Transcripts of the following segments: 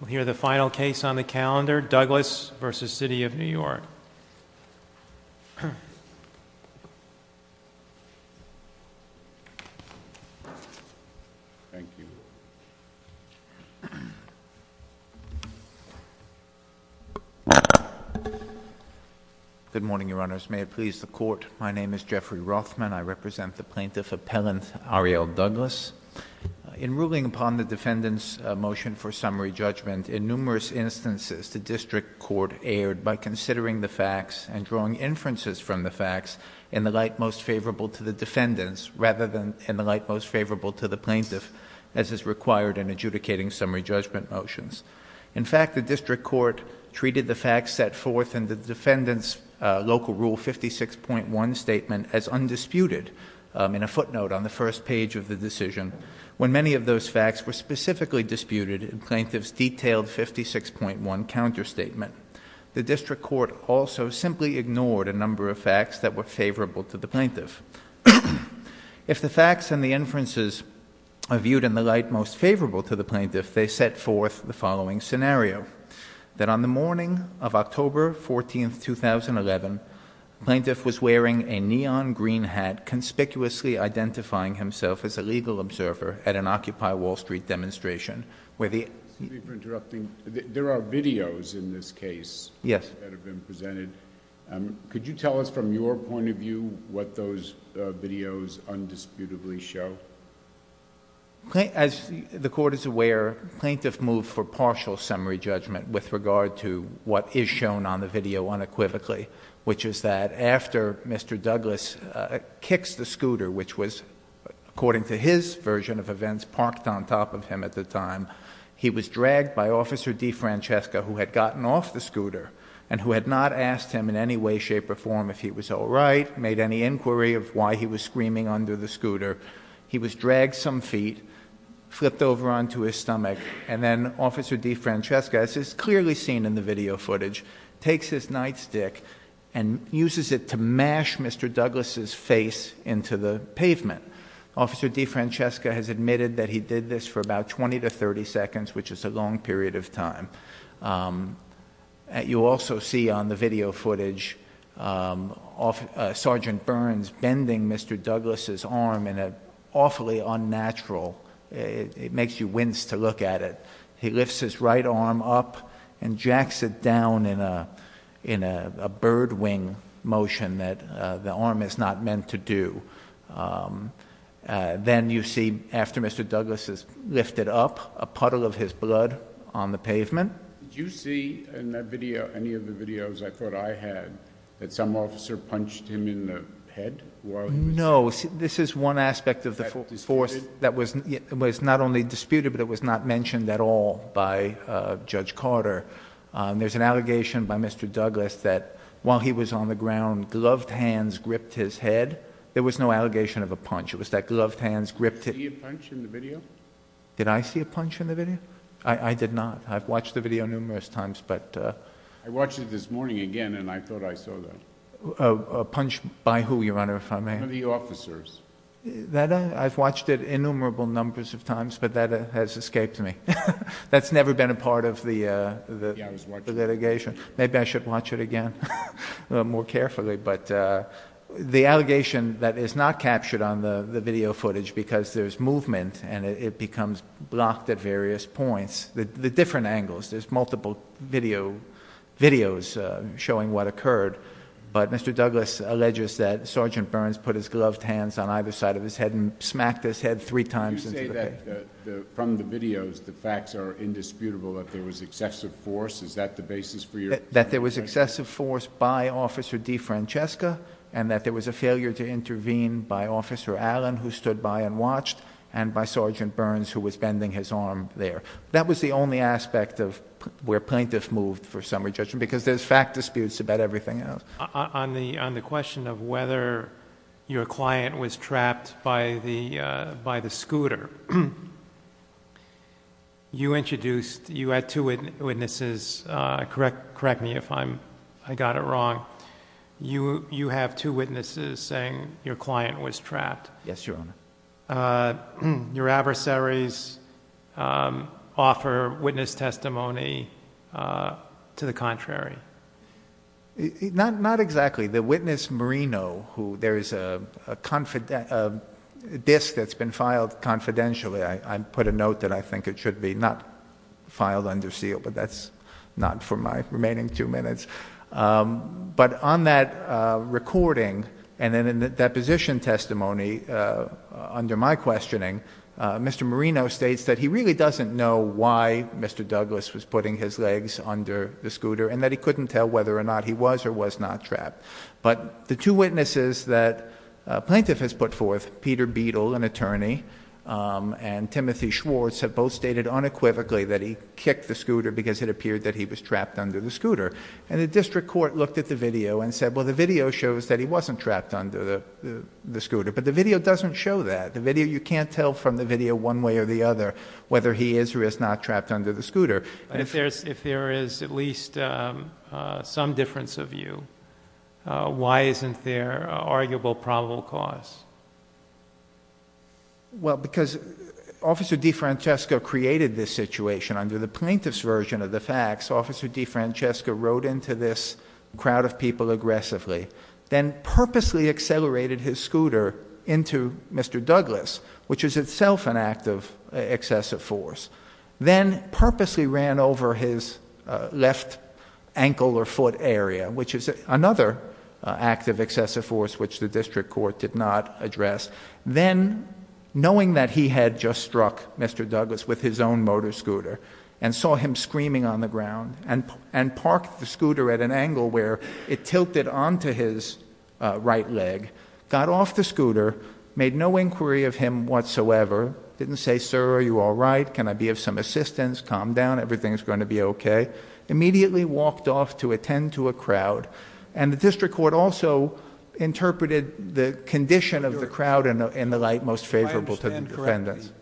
We'll hear the final case on the calendar, Douglas v. City of New York. Thank you. Good morning, Your Honors. May it please the Court, my name is Jeffrey Rothman. I represent the Plaintiff Appellant Ariel Douglas. In ruling upon the Defendant's motion for summary judgment, in numerous instances, the District Court erred by considering the facts and drawing inferences from the facts in the light most favorable to the Defendant's rather than in the light most favorable to the Plaintiff's as is required in adjudicating summary judgment motions. In fact, the District Court treated the facts set forth in the Defendant's Local Rule 56.1 Statement as undisputed, in a footnote on the first page of the decision, when many of those facts were specifically disputed in the Plaintiff's detailed 56.1 Counter Statement. The District Court also simply ignored a number of facts that were favorable to the Plaintiff. If the facts and the inferences are viewed in the light most favorable to the Plaintiff, they set forth the following scenario. That on the morning of October 14, 2011, the Plaintiff was wearing a neon green hat, conspicuously identifying himself as a legal observer at an Occupy Wall Street demonstration where the— Excuse me for interrupting. There are videos in this case that have been presented. Could you tell us from your point of view what those videos undisputably show? As the Court is aware, the Plaintiff moved for partial summary judgment with regard to what is shown on the video unequivocally, which is that after Mr. Douglas kicks the scooter, which was, according to his version of events, parked on top of him at the time, he was dragged by Officer DeFrancesca, who had gotten off the scooter and who had not asked him in any way, shape, or form if he was all right, made any inquiry of why he was screaming under the scooter. He was dragged some feet, flipped over onto his stomach, and then Officer DeFrancesca, as is clearly seen in the video footage, takes his nightstick and uses it to mash Mr. Douglas' face into the pavement. Officer DeFrancesca has admitted that he did this for about 20 to 30 seconds, which is a long period of time. You also see on the video footage Sergeant Burns bending Mr. Douglas' arm in an awfully unnatural—it makes you wince to look at it. He lifts his right arm up and jacks it down in a birdwing motion that the arm is not meant to do. Then you see, after Mr. Douglas is lifted up, a puddle of his blood on the pavement. Did you see in that video, any of the videos I thought I had, that some officer punched him in the head while he was— No. This is one aspect of the force that was not only disputed, but it was not mentioned at all by Judge Carter. There's an allegation by Mr. Douglas that while he was on the ground, gloved hands gripped his head. There was no allegation of a punch. It was that gloved hands gripped— Did you see a punch in the video? Did I see a punch in the video? I did not. I've watched the video numerous times, but— I watched it this morning again, and I thought I saw that. A punch by who, Your Honor, if I may? One of the officers. I've watched it innumerable numbers of times, but that has escaped me. That's never been a part of the litigation. Maybe I should watch it again more carefully. The allegation that is not captured on the video footage because there's movement and it becomes blocked at various points. The different angles. There's multiple videos showing what occurred. But Mr. Douglas alleges that Sergeant Burns put his gloved hands on either side of his head and smacked his head three times— You say that from the videos the facts are indisputable, that there was excessive force. Is that the basis for your— That there was excessive force by Officer DeFrancesca and that there was a failure to intervene by Officer Allen, who stood by and watched, and by Sergeant Burns, who was bending his arm there. That was the only aspect of where plaintiffs moved for summary judgment because there's fact disputes about everything else. On the question of whether your client was trapped by the scooter, you introduced—you had two witnesses. Correct me if I got it wrong. You have two witnesses saying your client was trapped. Yes, Your Honor. Did your adversaries offer witness testimony to the contrary? Not exactly. The witness, Marino, who there is a disc that's been filed confidentially. I put a note that I think it should be not filed under seal, but that's not for my remaining two minutes. But on that recording and in the deposition testimony, under my questioning, Mr. Marino states that he really doesn't know why Mr. Douglas was putting his legs under the scooter and that he couldn't tell whether or not he was or was not trapped. But the two witnesses that a plaintiff has put forth, Peter Beadle, an attorney, and Timothy Schwartz, have both stated unequivocally that he kicked the scooter because it appeared that he was trapped under the scooter. And the district court looked at the video and said, well, the video shows that he wasn't trapped under the scooter, but the video doesn't show that. You can't tell from the video one way or the other whether he is or is not trapped under the scooter. If there is at least some difference of view, why isn't there an arguable probable cause? Well, because Officer DeFrancesco created this situation. Under the plaintiff's version of the facts, Officer DeFrancesco rode into this crowd of people aggressively, then purposely accelerated his scooter into Mr. Douglas, which is itself an act of excessive force. Then purposely ran over his left ankle or foot area, which is another act of excessive force which the district court did not address. Then, knowing that he had just struck Mr. Douglas with his own motor scooter and saw him screaming on the ground and parked the scooter at an angle where it tilted onto his right leg, got off the scooter, made no inquiry of him whatsoever, didn't say, sir, are you all right, can I be of some assistance, calm down, everything's going to be okay, immediately walked off to attend to a crowd. And the district court also interpreted the condition of the crowd in the light most favorable to the defendants.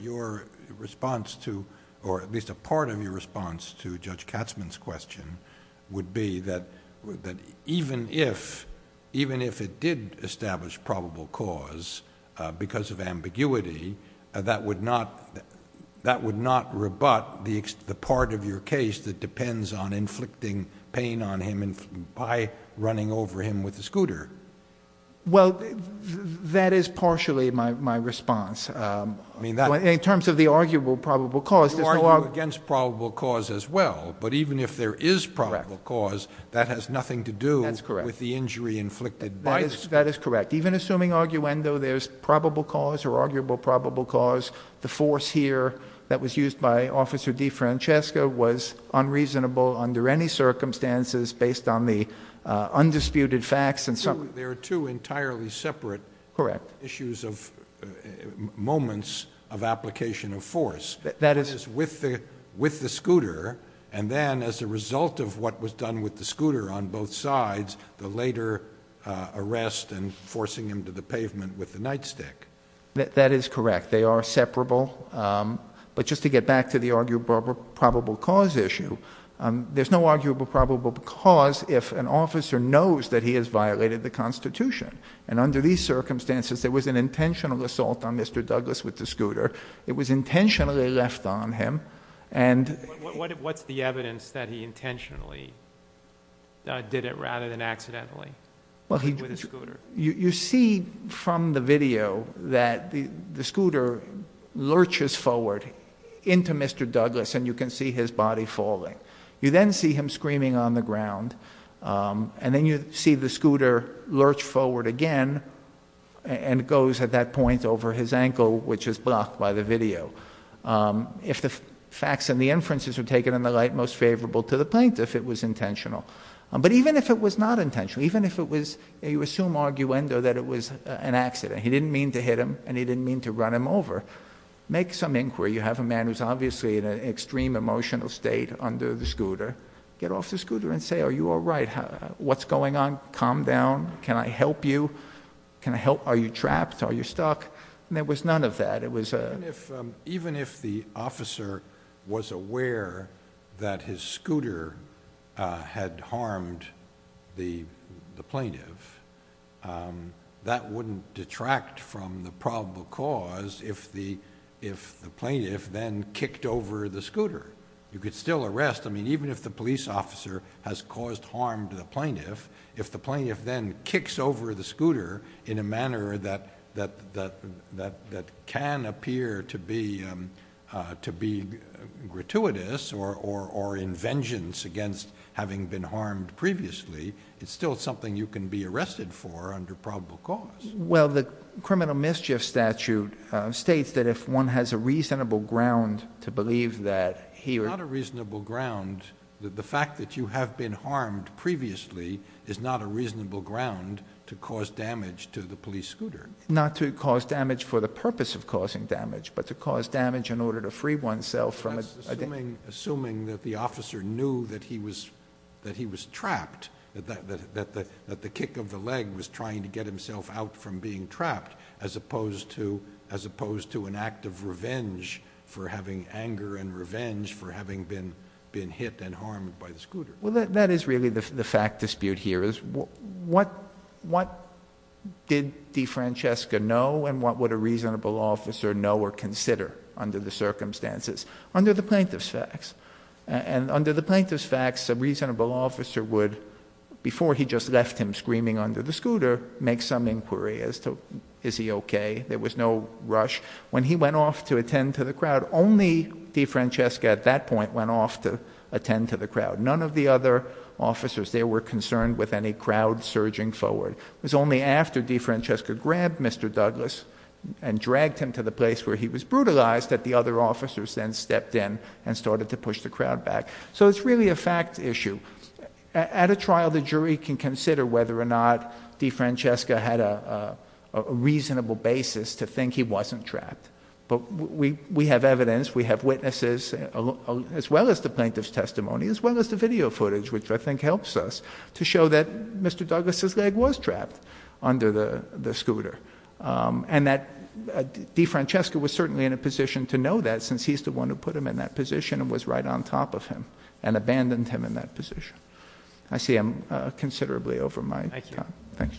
Your response to, or at least a part of your response to Judge Katzmann's question would be that even if it did establish probable cause because of ambiguity, that would not rebut the part of your case that depends on inflicting pain on him by running over him with a scooter. Well, that is partially my response. In terms of the arguable probable cause... You argue against probable cause as well, but even if there is probable cause, that has nothing to do with the injury inflicted by the... That is correct. Even assuming arguendo there's probable cause or arguable probable cause, the force here that was used by Officer DeFrancesca was unreasonable under any circumstances based on the undisputed facts and... There are two entirely separate... Correct. ...issues of moments of application of force. That is... With the scooter, and then as a result of what was done with the scooter on both sides, the later arrest and forcing him to the pavement with the nightstick. That is correct. They are separable. But just to get back to the arguable probable cause issue, there's no arguable probable cause if an officer knows that he has violated the Constitution. Under these circumstances, there was an intentional assault on Mr. Douglas with the scooter. It was intentionally left on him. What's the evidence that he intentionally did it rather than accidentally with the scooter? You see from the video that the scooter lurches forward into Mr. Douglas, and you can see his body falling. You then see him screaming on the ground, and then you see the scooter lurch forward again and goes at that point over his ankle, which is blocked by the video. If the facts and the inferences are taken in the light, most favorable to the plaintiff if it was intentional. But even if it was not intentional, even if it was a resume arguendo that it was an accident, he didn't mean to hit him and he didn't mean to run him over, make some inquiry. You have a man who's obviously in an extreme emotional state under the scooter. Get off the scooter and say, Are you all right? What's going on? Calm down. Can I help you? Can I help? Are you trapped? Are you stuck? There was none of that. Even if the officer was aware that his scooter had harmed the plaintiff, that wouldn't detract from the probable cause if the plaintiff then kicked over the scooter. You could still arrest. Even if the police officer has caused harm to the plaintiff, if the plaintiff then kicks over the scooter in a manner that can appear to be gratuitous or in vengeance against having been harmed previously, it's still something you can be arrested for under probable cause. Well, the criminal mischief statute states that if one has a reasonable ground to believe that he or... Not a reasonable ground. The fact that you have been harmed previously is not a reasonable ground to cause damage to the police scooter. Not to cause damage for the purpose of causing damage, but to cause damage in order to free oneself from... Assuming that the officer knew that he was trapped, that the kick of the leg was trying to get himself out from being trapped, as opposed to an act of revenge for having anger and revenge for having been hit and harmed by the scooter. Well, that is really the fact dispute here. What did DeFrancesca know and what would a reasonable officer know or consider under the circumstances? Under the plaintiff's facts. And under the plaintiff's facts, a reasonable officer would, before he just left him screaming under the scooter, make some inquiry as to, is he okay? There was no rush. When he went off to attend to the crowd, only DeFrancesca at that point went off to attend to the crowd. None of the other officers there were concerned with any crowd surging forward. It was only after DeFrancesca grabbed Mr. Douglas and dragged him to the place where he was brutalized that the other officers then stepped in and started to push the crowd back. So it's really a fact issue. At a trial, the jury can consider whether or not DeFrancesca had a reasonable basis to think he wasn't trapped. But we have evidence. We have witnesses, as well as the plaintiff's testimony, as well as the video footage, which I think helps us to show that Mr. Douglas's leg was trapped under the scooter and that DeFrancesca was certainly in a position to know that since he's the one who put him in that position and was right on top of him and abandoned him in that position. I see I'm considerably over my time. Thank you. Thanks.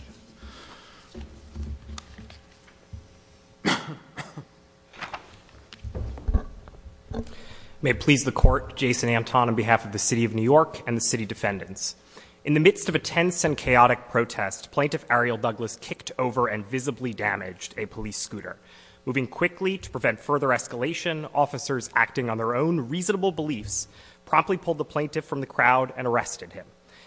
May it please the Court, Jason Anton on behalf of the City of New York and the City Defendants. In the midst of a tense and chaotic protest, Plaintiff Ariel Douglas kicked over and visibly damaged a police scooter. Moving quickly to prevent further escalation, officers acting on their own reasonable beliefs promptly pulled the plaintiff from the crowd and arrested him.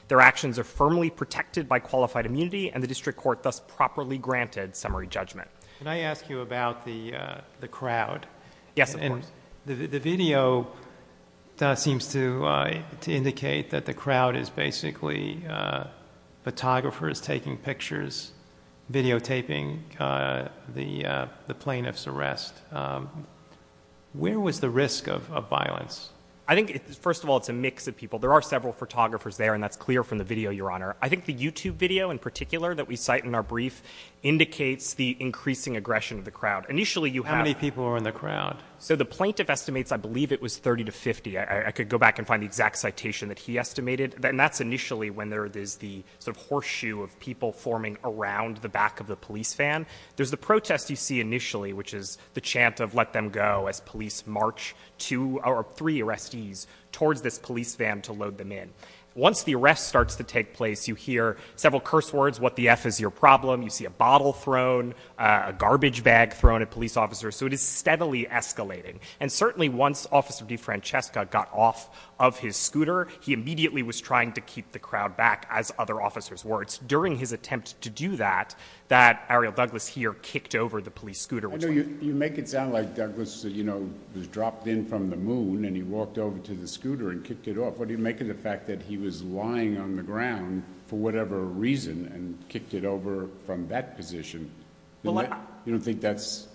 Their actions are firmly protected by qualified immunity, and the District Court thus properly granted summary judgment. Can I ask you about the crowd? Yes, of course. The video seems to indicate that the crowd is basically photographers taking pictures, videotaping the plaintiff's arrest. Where was the risk of violence? I think, first of all, it's a mix of people. There are several photographers there, and that's clear from the video, Your Honor. I think the YouTube video in particular that we cite in our brief indicates the increasing aggression of the crowd. Initially, you have— How many people were in the crowd? So the plaintiff estimates, I believe it was 30 to 50. I could go back and find the exact citation that he estimated. And that's initially when there is the sort of horseshoe of people forming around the back of the police van. There's the protest you see initially, which is the chant of, Let them go, as police march two or three arrestees towards this police van to load them in. Once the arrest starts to take place, you hear several curse words, What the F is your problem? You see a bottle thrown, a garbage bag thrown at police officers. So it is steadily escalating. And certainly once Officer DeFrancesca got off of his scooter, he immediately was trying to keep the crowd back, as other officers were. It's during his attempt to do that that Ariel Douglas here kicked over the police scooter. I know you make it sound like Douglas, you know, was dropped in from the moon, and he walked over to the scooter and kicked it off. What do you make of the fact that he was lying on the ground for whatever reason and kicked it over from that position? You don't think that has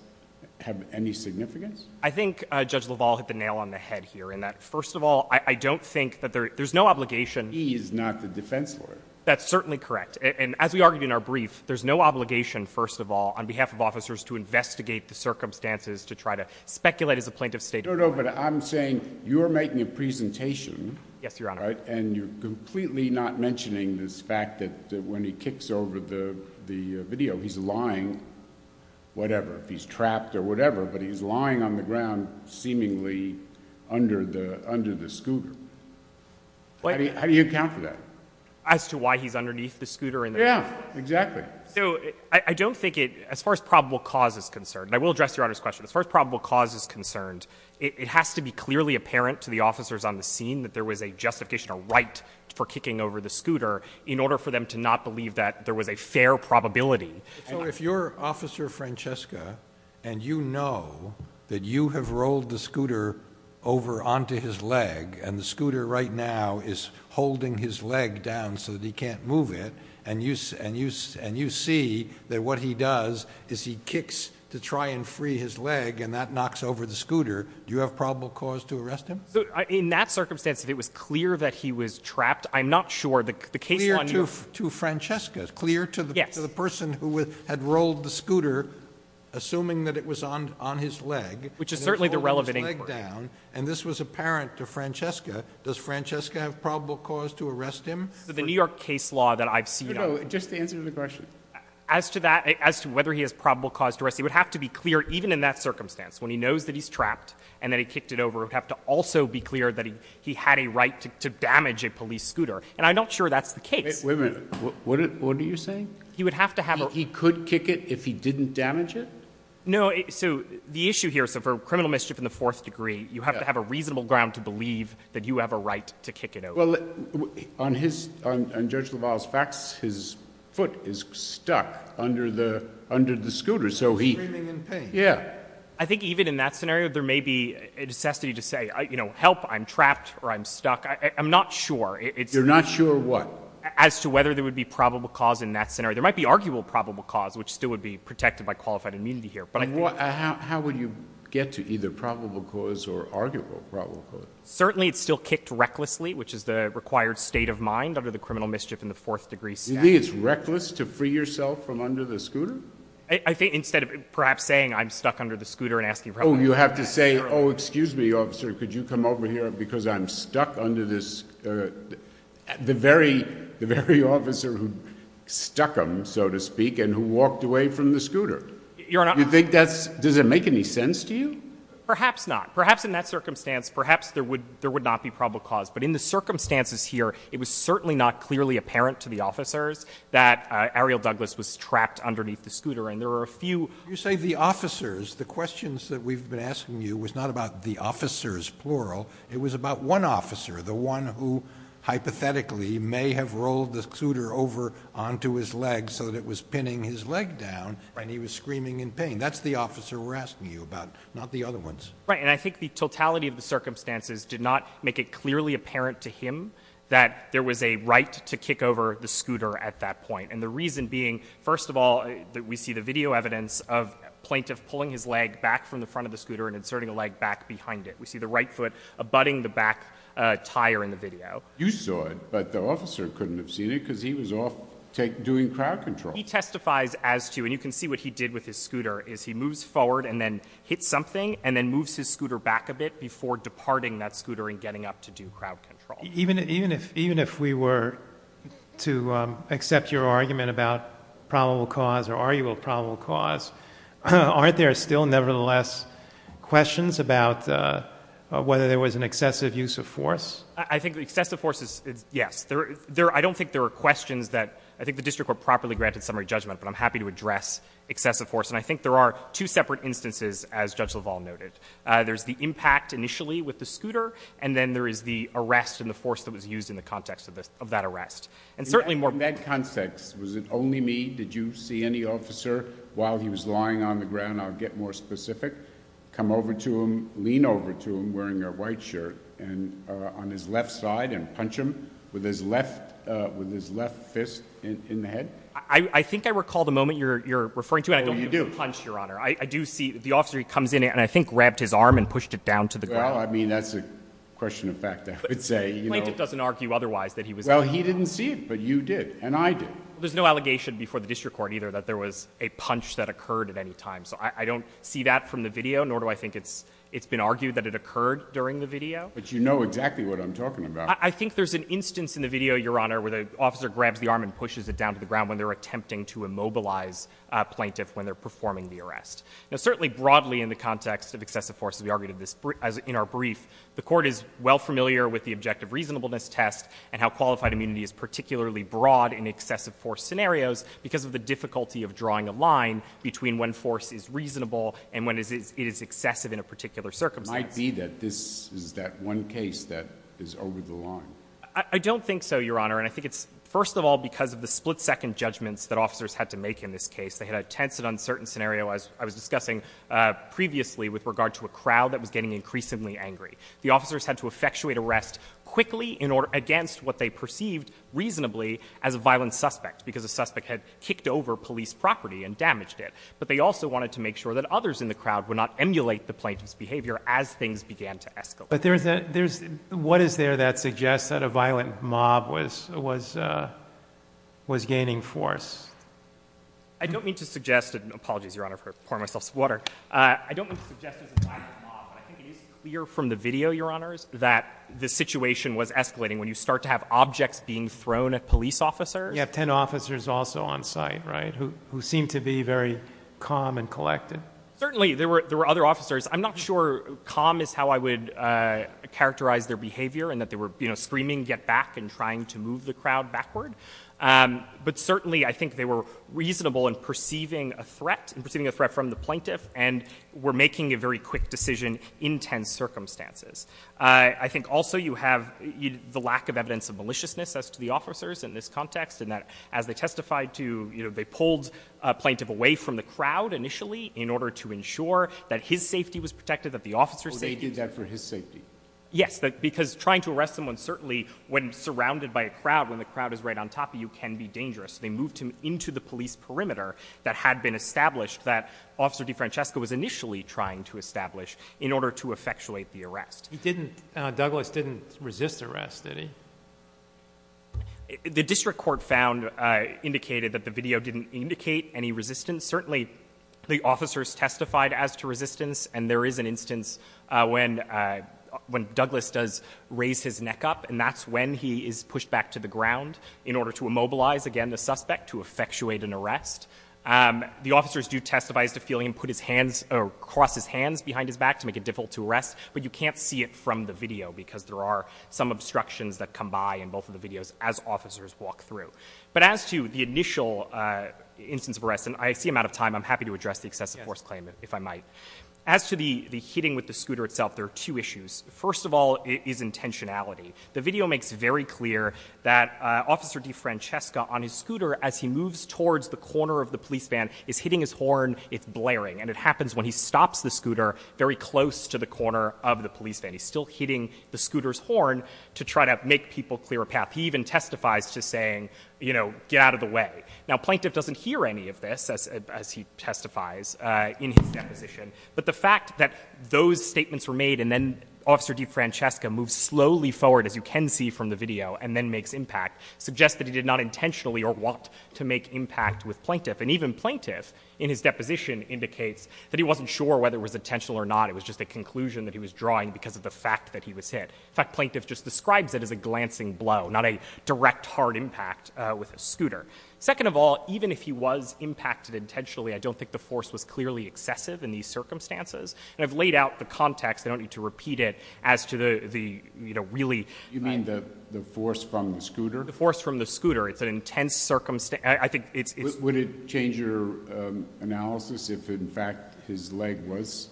any significance? I think Judge LaValle hit the nail on the head here in that, first of all, I don't think that there's no obligation. He is not the defense lawyer. That's certainly correct. And as we argued in our brief, there's no obligation, first of all, on behalf of officers to investigate the circumstances to try to speculate as a plaintiff's state attorney. No, no, but I'm saying you're making a presentation. Yes, Your Honor. And you're completely not mentioning this fact that when he kicks over the video, he's lying, whatever, if he's trapped or whatever, but he's lying on the ground seemingly under the scooter. How do you account for that? As to why he's underneath the scooter? Yeah, exactly. So I don't think it, as far as probable cause is concerned, and I will address Your Honor's question, as far as probable cause is concerned, it has to be clearly apparent to the officers on the scene that there was a justification or right for kicking over the scooter in order for them to not believe that there was a fair probability. So if you're Officer Francesca and you know that you have rolled the scooter over onto his leg and the scooter right now is holding his leg down so that he can't move it and you see that what he does is he kicks to try and free his leg and that knocks over the scooter, do you have probable cause to arrest him? In that circumstance, if it was clear that he was trapped, I'm not sure. Clear to Francesca? Clear to the person who had rolled the scooter, assuming that it was on his leg. Which is certainly the relevant inquiry. And this was apparent to Francesca. Does Francesca have probable cause to arrest him? The New York case law that I've seen on it. No, no, just the answer to the question. As to whether he has probable cause to arrest him, it would have to be clear even in that circumstance, when he knows that he's trapped and that he kicked it over, it would have to also be clear that he had a right to damage a police scooter. And I'm not sure that's the case. Wait a minute. What are you saying? He would have to have a... He could kick it if he didn't damage it? No, so the issue here, so for criminal mischief in the fourth degree, you have to have a reasonable ground to believe that you have a right to kick it over. Well, on Judge LaValle's facts, his foot is stuck under the scooter, so he... Screaming in pain. Yeah. I think even in that scenario, there may be a necessity to say, you know, help, I'm trapped or I'm stuck. I'm not sure. You're not sure what? As to whether there would be probable cause in that scenario. There might be arguable probable cause, which still would be protected by qualified immunity here. How would you get to either probable cause or arguable probable cause? Certainly it's still kicked recklessly, which is the required state of mind under the criminal mischief in the fourth degree statute. You think it's reckless to free yourself from under the scooter? I think instead of perhaps saying I'm stuck under the scooter and asking... Oh, you have to say, oh, excuse me, officer, could you come over here because I'm stuck under this, the very officer who stuck him, so to speak, and who walked away from the scooter. Your Honor... You think that's, does it make any sense to you? Perhaps not. Perhaps in that circumstance, perhaps there would not be probable cause. But in the circumstances here, it was certainly not clearly apparent to the officers that Ariel Douglas was trapped underneath the scooter. And there were a few... You say the officers. The questions that we've been asking you was not about the officers, plural. It was about one officer, the one who hypothetically may have rolled the scooter over onto his leg so that it was pinning his leg down and he was screaming in pain. That's the officer we're asking you about, not the other ones. Right. And I think the totality of the circumstances did not make it clearly apparent to him that there was a right to kick over the scooter at that point. And the reason being, first of all, we see the video evidence of a plaintiff pulling his leg back from the front of the scooter and inserting a leg back behind it. We see the right foot abutting the back tire in the video. You saw it, but the officer couldn't have seen it because he was off doing crowd control. He testifies as to, and you can see what he did with his scooter, is he moves forward and then hits something and then moves his scooter back a bit before departing that scooter and getting up to do crowd control. Even if we were to accept your argument about probable cause or argue a probable cause, aren't there still nevertheless questions about whether there was an excessive use of force? I think excessive force is yes. I don't think there are questions that I think the district court properly granted summary judgment, but I'm happy to address excessive force. And I think there are two separate instances, as Judge LaValle noted. There's the impact initially with the scooter, and then there is the arrest and the force that was used in the context of that arrest. In that context, was it only me? Did you see any officer while he was lying on the ground? I'll get more specific. Come over to him, lean over to him wearing a white shirt on his left side and punch him with his left fist in the head? I think I recall the moment you're referring to, and I don't mean punch, Your Honor. I do see the officer comes in and I think grabbed his arm and pushed it down to the ground. Well, I mean, that's a question of fact, I would say. Plaintiff doesn't argue otherwise that he was lying on the ground. Well, he didn't see it, but you did, and I did. There's no allegation before the district court either that there was a punch that occurred at any time. So I don't see that from the video, nor do I think it's been argued that it occurred during the video. But you know exactly what I'm talking about. I think there's an instance in the video, Your Honor, where the officer grabs the arm and pushes it down to the ground when they're attempting to immobilize a plaintiff when they're performing the arrest. Now, certainly broadly in the context of excessive force, as we argued in our brief, the court is well familiar with the objective reasonableness test and how qualified immunity is particularly broad in excessive force scenarios because of the difficulty of drawing a line between when force is reasonable and when it is excessive in a particular circumstance. It might be that this is that one case that is over the line. I don't think so, Your Honor. And I think it's first of all because of the split-second judgments that officers had to make in this case. They had a tense and uncertain scenario, as I was discussing previously, with regard to a crowd that was getting increasingly angry. The officers had to effectuate arrest quickly against what they perceived reasonably as a violent suspect because the suspect had kicked over police property and damaged it. But they also wanted to make sure that others in the crowd would not emulate the plaintiff's behavior as things began to escalate. But what is there that suggests that a violent mob was gaining force? I don't mean to suggest it. Apologies, Your Honor, for pouring myself some water. I don't mean to suggest there's a violent mob, but I think it is clear from the video, Your Honors, that the situation was escalating when you start to have objects being thrown at police officers. You have 10 officers also on site, right, who seem to be very calm and collected. Certainly. There were other officers. I'm not sure calm is how I would characterize their behavior and that they were screaming get back and trying to move the crowd backward. But certainly I think they were reasonable in perceiving a threat and perceiving a threat from the plaintiff and were making a very quick decision in tense circumstances. I think also you have the lack of evidence of maliciousness as to the officers in this context and that as they testified to they pulled a plaintiff away from the crowd initially in order to ensure that his safety was protected, that the officer's safety was protected. So they did that for his safety? Yes, because trying to arrest someone certainly when surrounded by a crowd, when the crowd is right on top of you, can be dangerous. They moved him into the police perimeter that had been established that Officer DeFrancesco was initially trying to establish in order to effectuate the arrest. He didn't, Douglas didn't resist arrest, did he? The district court found, indicated that the video didn't indicate any resistance. Certainly the officers testified as to resistance and there is an instance when Douglas does raise his neck up and that's when he is pushed back to the ground in order to immobilize again the suspect to effectuate an arrest. The officers do testify as to feeling him put his hands, or cross his hands behind his back to make it difficult to arrest but you can't see it from the video because there are some obstructions that come by in both of the videos as officers walk through. But as to the initial instance of arrest, and I see I'm out of time, I'm happy to address the excessive force claim if I might. As to the hitting with the scooter itself, there are two issues. First of all is intentionality. The video makes very clear that Officer DeFrancesco on his scooter as he moves towards the corner of the police van is hitting his horn, it's blaring. And it happens when he stops the scooter very close to the corner of the police van. He's still hitting the scooter's horn to try to make people clear a path. He even testifies to saying, you know, get out of the way. Now Plaintiff doesn't hear any of this as he testifies in his deposition. But the fact that those statements were made and then Officer DeFrancesco moves slowly forward as you can see from the video and then makes impact suggests that he did not intentionally or want to make impact with Plaintiff. And even Plaintiff in his deposition indicates that he wasn't sure whether it was intentional or not. It was just a conclusion that he was drawing because of the fact that he was hit. In fact, Plaintiff just describes it as a glancing blow, not a direct hard impact with a scooter. Second of all, even if he was impacted intentionally, I don't think the force was clearly excessive in these circumstances. And I've laid out the context. I don't need to repeat it as to the, you know, really... You mean the force from the scooter? The force from the scooter. It's an intense circumstance. I think it's... his leg was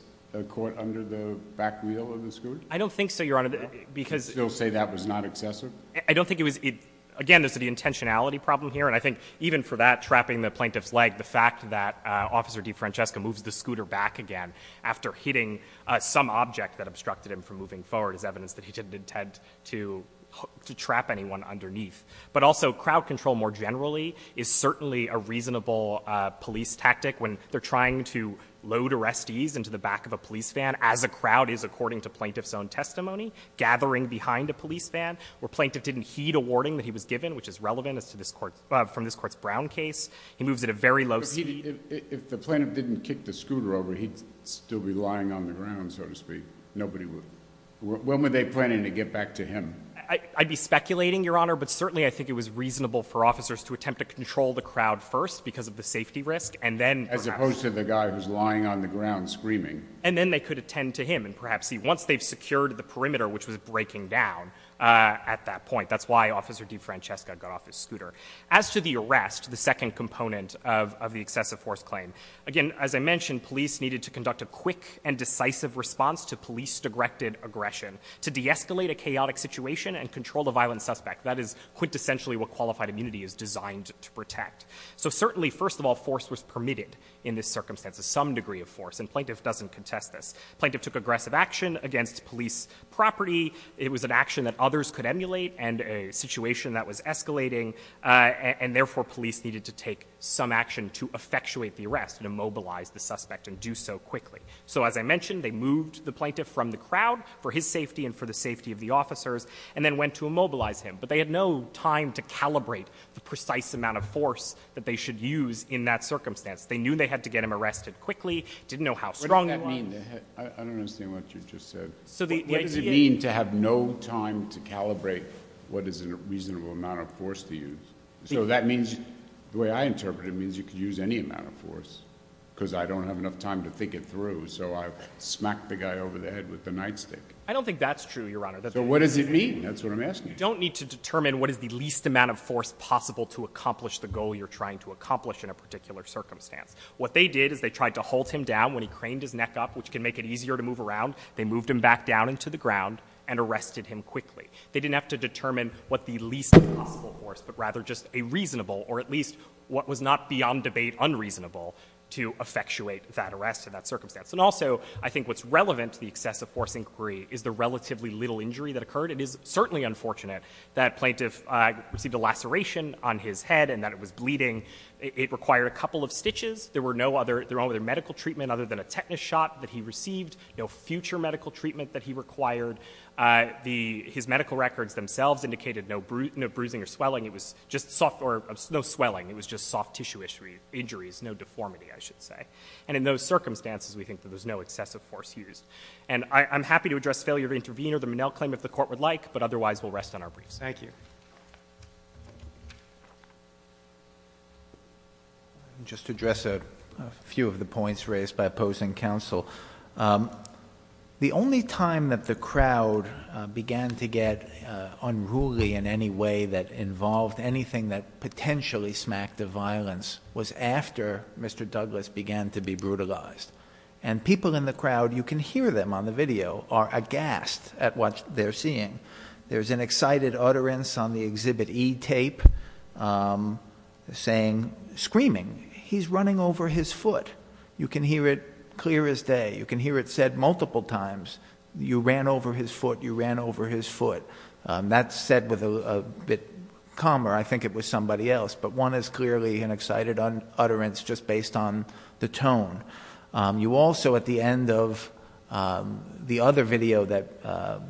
caught under the back wheel of the scooter? I don't think so, Your Honor, because... You still say that was not excessive? I don't think it was... Again, there's the intentionality problem here and I think even for that trapping the Plaintiff's leg, the fact that Officer DeFrancesco moves the scooter back again after hitting some object that obstructed him from moving forward is evidence that he didn't intend to trap anyone underneath. But also, crowd control more generally is certainly a reasonable police tactic when they're trying to load arrestees into the back of a police van as a crowd is, according to Plaintiff's own testimony, gathering behind a police van, where Plaintiff didn't heed a warning that he was given, which is relevant from this Court's Brown case. He moves at a very low speed. If the Plaintiff didn't kick the scooter over, he'd still be lying on the ground, so to speak. Nobody would... When were they planning to get back to him? I'd be speculating, Your Honor, but certainly I think it was reasonable for officers to attempt to control the crowd first because of the safety risk, and then perhaps... As opposed to the guy who's lying on the ground screaming. And then they could attend to him, and perhaps once they've secured the perimeter, which was breaking down at that point, that's why Officer DiFrancesca got off his scooter. As to the arrest, the second component of the excessive force claim, again, as I mentioned, police needed to conduct a quick and decisive response to police-directed aggression to de-escalate a chaotic situation and control the violent suspect. That is quintessentially what qualified immunity is designed to protect. So certainly, first of all, force was permitted in this circumstance, some degree of force, and plaintiff doesn't contest this. Plaintiff took aggressive action against police property. It was an action that others could emulate and a situation that was escalating, and therefore police needed to take some action to effectuate the arrest and immobilize the suspect and do so quickly. So as I mentioned, they moved the plaintiff from the crowd for his safety and for the safety of the officers and then went to immobilize him, but they had no time to calibrate the precise amount of force that they should use in that circumstance. They knew they had to get him arrested quickly, didn't know how strong he was. What does that mean? I don't understand what you just said. What does it mean to have no time to calibrate what is a reasonable amount of force to use? So that means, the way I interpret it, it means you could use any amount of force because I don't have enough time to think it through, so I smack the guy over the head with the nightstick. I don't think that's true, Your Honor. So what does it mean? That's what I'm asking. You don't need to determine what is the least amount of force possible to accomplish the goal you're trying to accomplish in a particular circumstance. What they did is they tried to hold him down when he craned his neck up, which can make it easier to move around. They moved him back down into the ground and arrested him quickly. They didn't have to determine what the least possible force, but rather just a reasonable or at least what was not beyond debate unreasonable to effectuate that arrest in that circumstance. And also, I think what's relevant to the excessive force inquiry is the relatively little injury that occurred. It is certainly unfortunate that Plaintiff received a laceration on his head and that it was bleeding. It required a couple of stitches. There were no other medical treatment other than a tetanus shot that he received, no future medical treatment that he required. His medical records themselves indicated no bruising or swelling. It was just soft tissue injuries, no deformity, I should say. And in those circumstances, we think that there's no excessive force used. And I'm happy to address failure to intervene or the Monell claim if the Court would like, but otherwise we'll rest on our briefs. Thank you. Just to address a few of the points raised by opposing counsel. The only time that the crowd began to get unruly in any way that involved anything that potentially smacked of violence was after Mr. Douglas began to be brutalized. And people in the crowd, you can hear them on the video, are aghast at what they're seeing. There's an excited utterance on the Exhibit E tape saying, screaming, he's running over his foot. You can hear it clear as day. You can hear it said multiple times, you ran over his foot, you ran over his foot. That's said with a bit calmer, I think it was somebody else, but one is clearly an excited utterance just based on the tone. You also, at the end of the other video that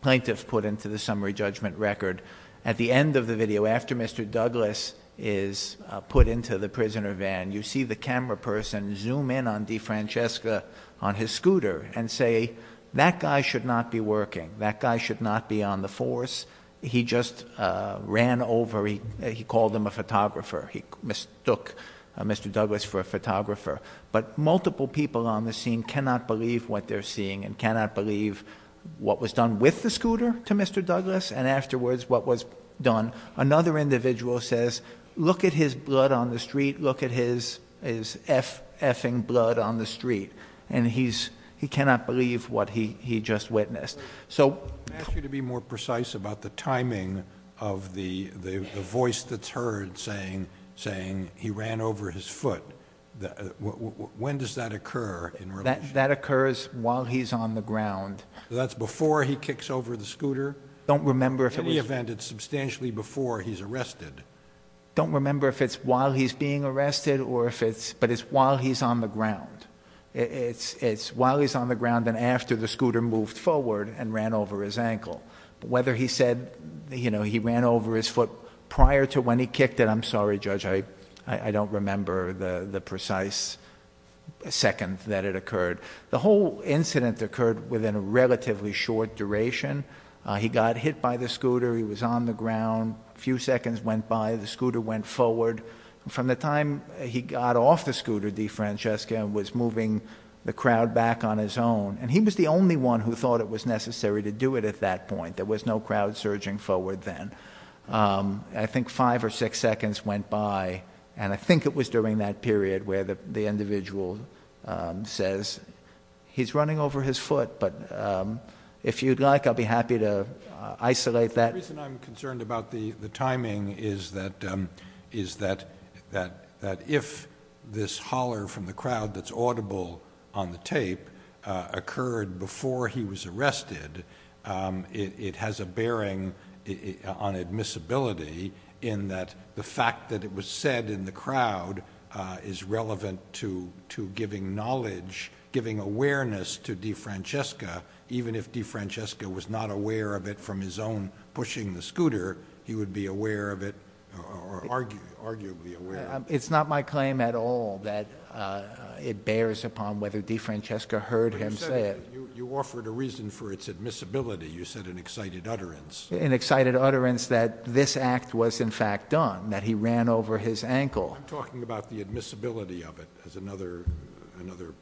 plaintiffs put into the summary judgment record, at the end of the video, after Mr. Douglas is put into the prisoner van, you see the camera person zoom in on DeFrancesca on his scooter and say, that guy should not be working. That guy should not be on the force. He just ran over, he called him a photographer. He mistook Mr. Douglas for a photographer. But multiple people on the scene cannot believe what they're seeing and cannot believe what was done with the scooter to Mr. Douglas and afterwards what was done. Another individual says, look at his blood on the street, look at his effing blood on the street. And he cannot believe what he just witnessed. So... I asked you to be more precise about the timing of the voice that's heard saying, he ran over his foot. When does that occur in relation... That occurs while he's on the ground. That's before he kicks over the scooter? In any event, it's substantially before he's arrested. I don't remember if it's while he's being arrested or if it's... But it's while he's on the ground. It's while he's on the ground and after the scooter moved forward and ran over his ankle. But whether he said he ran over his foot prior to when he kicked it, I'm sorry, Judge, I don't remember the precise second that it occurred. The whole incident occurred within a relatively short duration. He got hit by the scooter, he was on the ground. A few seconds went by, the scooter went forward. From the time he got off the scooter, DeFrancesca, was moving the crowd back on his own. And he was the only one who thought it was necessary to do it at that point. There was no crowd surging forward then. I think five or six seconds went by and I think it was during that period where the individual says, he's running over his foot, but if you'd like, I'll be happy to isolate that. The reason I'm concerned about the timing is that if this holler from the crowd that's audible on the tape occurred before he was arrested, it has a bearing on admissibility in that the fact that it was said in the crowd is relevant to giving knowledge, giving awareness to DeFrancesca. Even if DeFrancesca was not aware of it from his own pushing the scooter, he would be aware of it, or arguably aware of it. It's not my claim at all that it bears upon whether DeFrancesca heard him say it. You offered a reason for its admissibility. You said an excited utterance. An excited utterance that this act was in fact done, that he ran over his ankle. I'm talking about the admissibility of it as another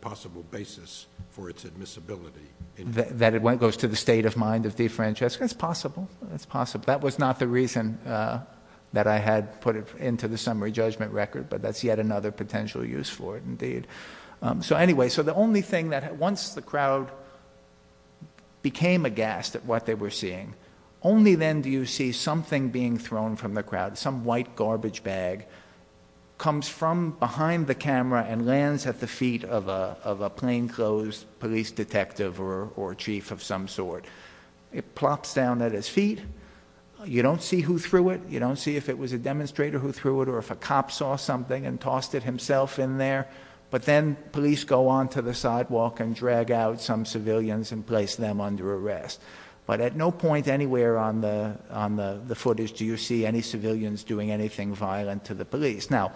possible basis for its admissibility. That it goes to the state of mind of DeFrancesca. That's possible. That's possible. That was not the reason that I had put it into the summary judgment record, but that's yet another potential use for it indeed. Anyway, the only thing that once the crowd became aghast at what they were seeing, only then do you see something being thrown from the crowd. Some white garbage bag comes from behind the camera and lands at the feet of a plainclothes police detective or chief of some sort. It plops down at his feet. You don't see who threw it. You don't see if it was a demonstrator who threw it or if a cop saw something and tossed it himself in there. But then police go onto the sidewalk and drag out some civilians and place them under arrest. But at no point anywhere on the footage do you see any civilians doing anything violent to the police. Now,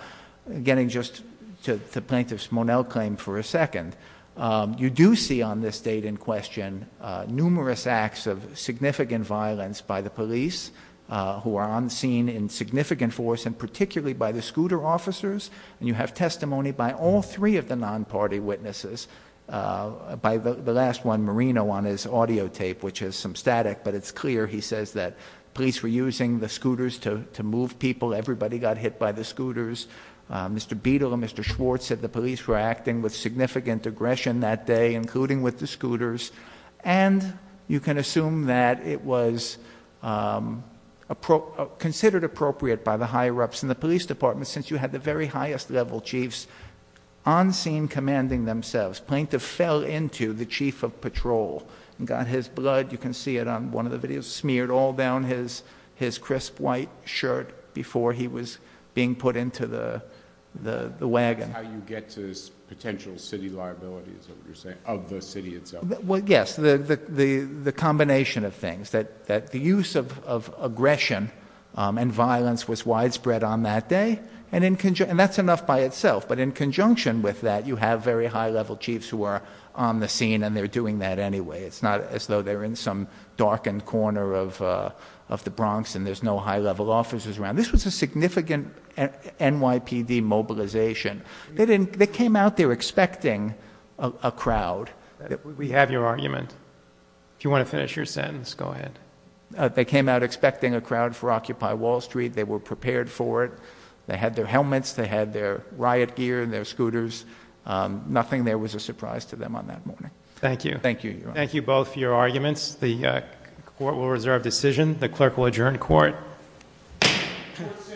getting just to the plaintiff's Monell claim for a second, you do see on this date in question numerous acts of significant violence by the police who are on the scene in significant force and particularly by the scooter officers. And you have testimony by all three of the non-party witnesses. By the last one, Marino, on his audio tape, which has some static, but it's clear he says that police were using the scooters to move people. Everybody got hit by the scooters. Mr. Beadle and Mr. Schwartz said the police were acting with significant aggression that day, including with the scooters. And you can assume that it was considered appropriate by the higher-ups in the police department since you had the very highest-level chiefs on scene commanding themselves. The plaintiff fell into the chief of patrol and got his blood, you can see it on one of the videos, smeared all down his crisp white shirt before he was being put into the wagon. That's how you get to potential city liability, is what you're saying, of the city itself. Well, yes, the combination of things. That the use of aggression and violence was widespread on that day, and that's enough by itself. But in conjunction with that, you have very high-level chiefs who are on the scene and they're doing that anyway. It's not as though they're in some darkened corner of the Bronx and there's no high-level officers around. This was a significant NYPD mobilization. They came out there expecting a crowd. We have your argument. If you want to finish your sentence, go ahead. They came out expecting a crowd for Occupy Wall Street. They were prepared for it. They had their helmets, they had their riot gear and their scooters. Nothing there was a surprise to them on that morning. Thank you. Thank you, Your Honor. Thank you both for your arguments. The court will reserve decision. The clerk will adjourn court. Court is adjourned.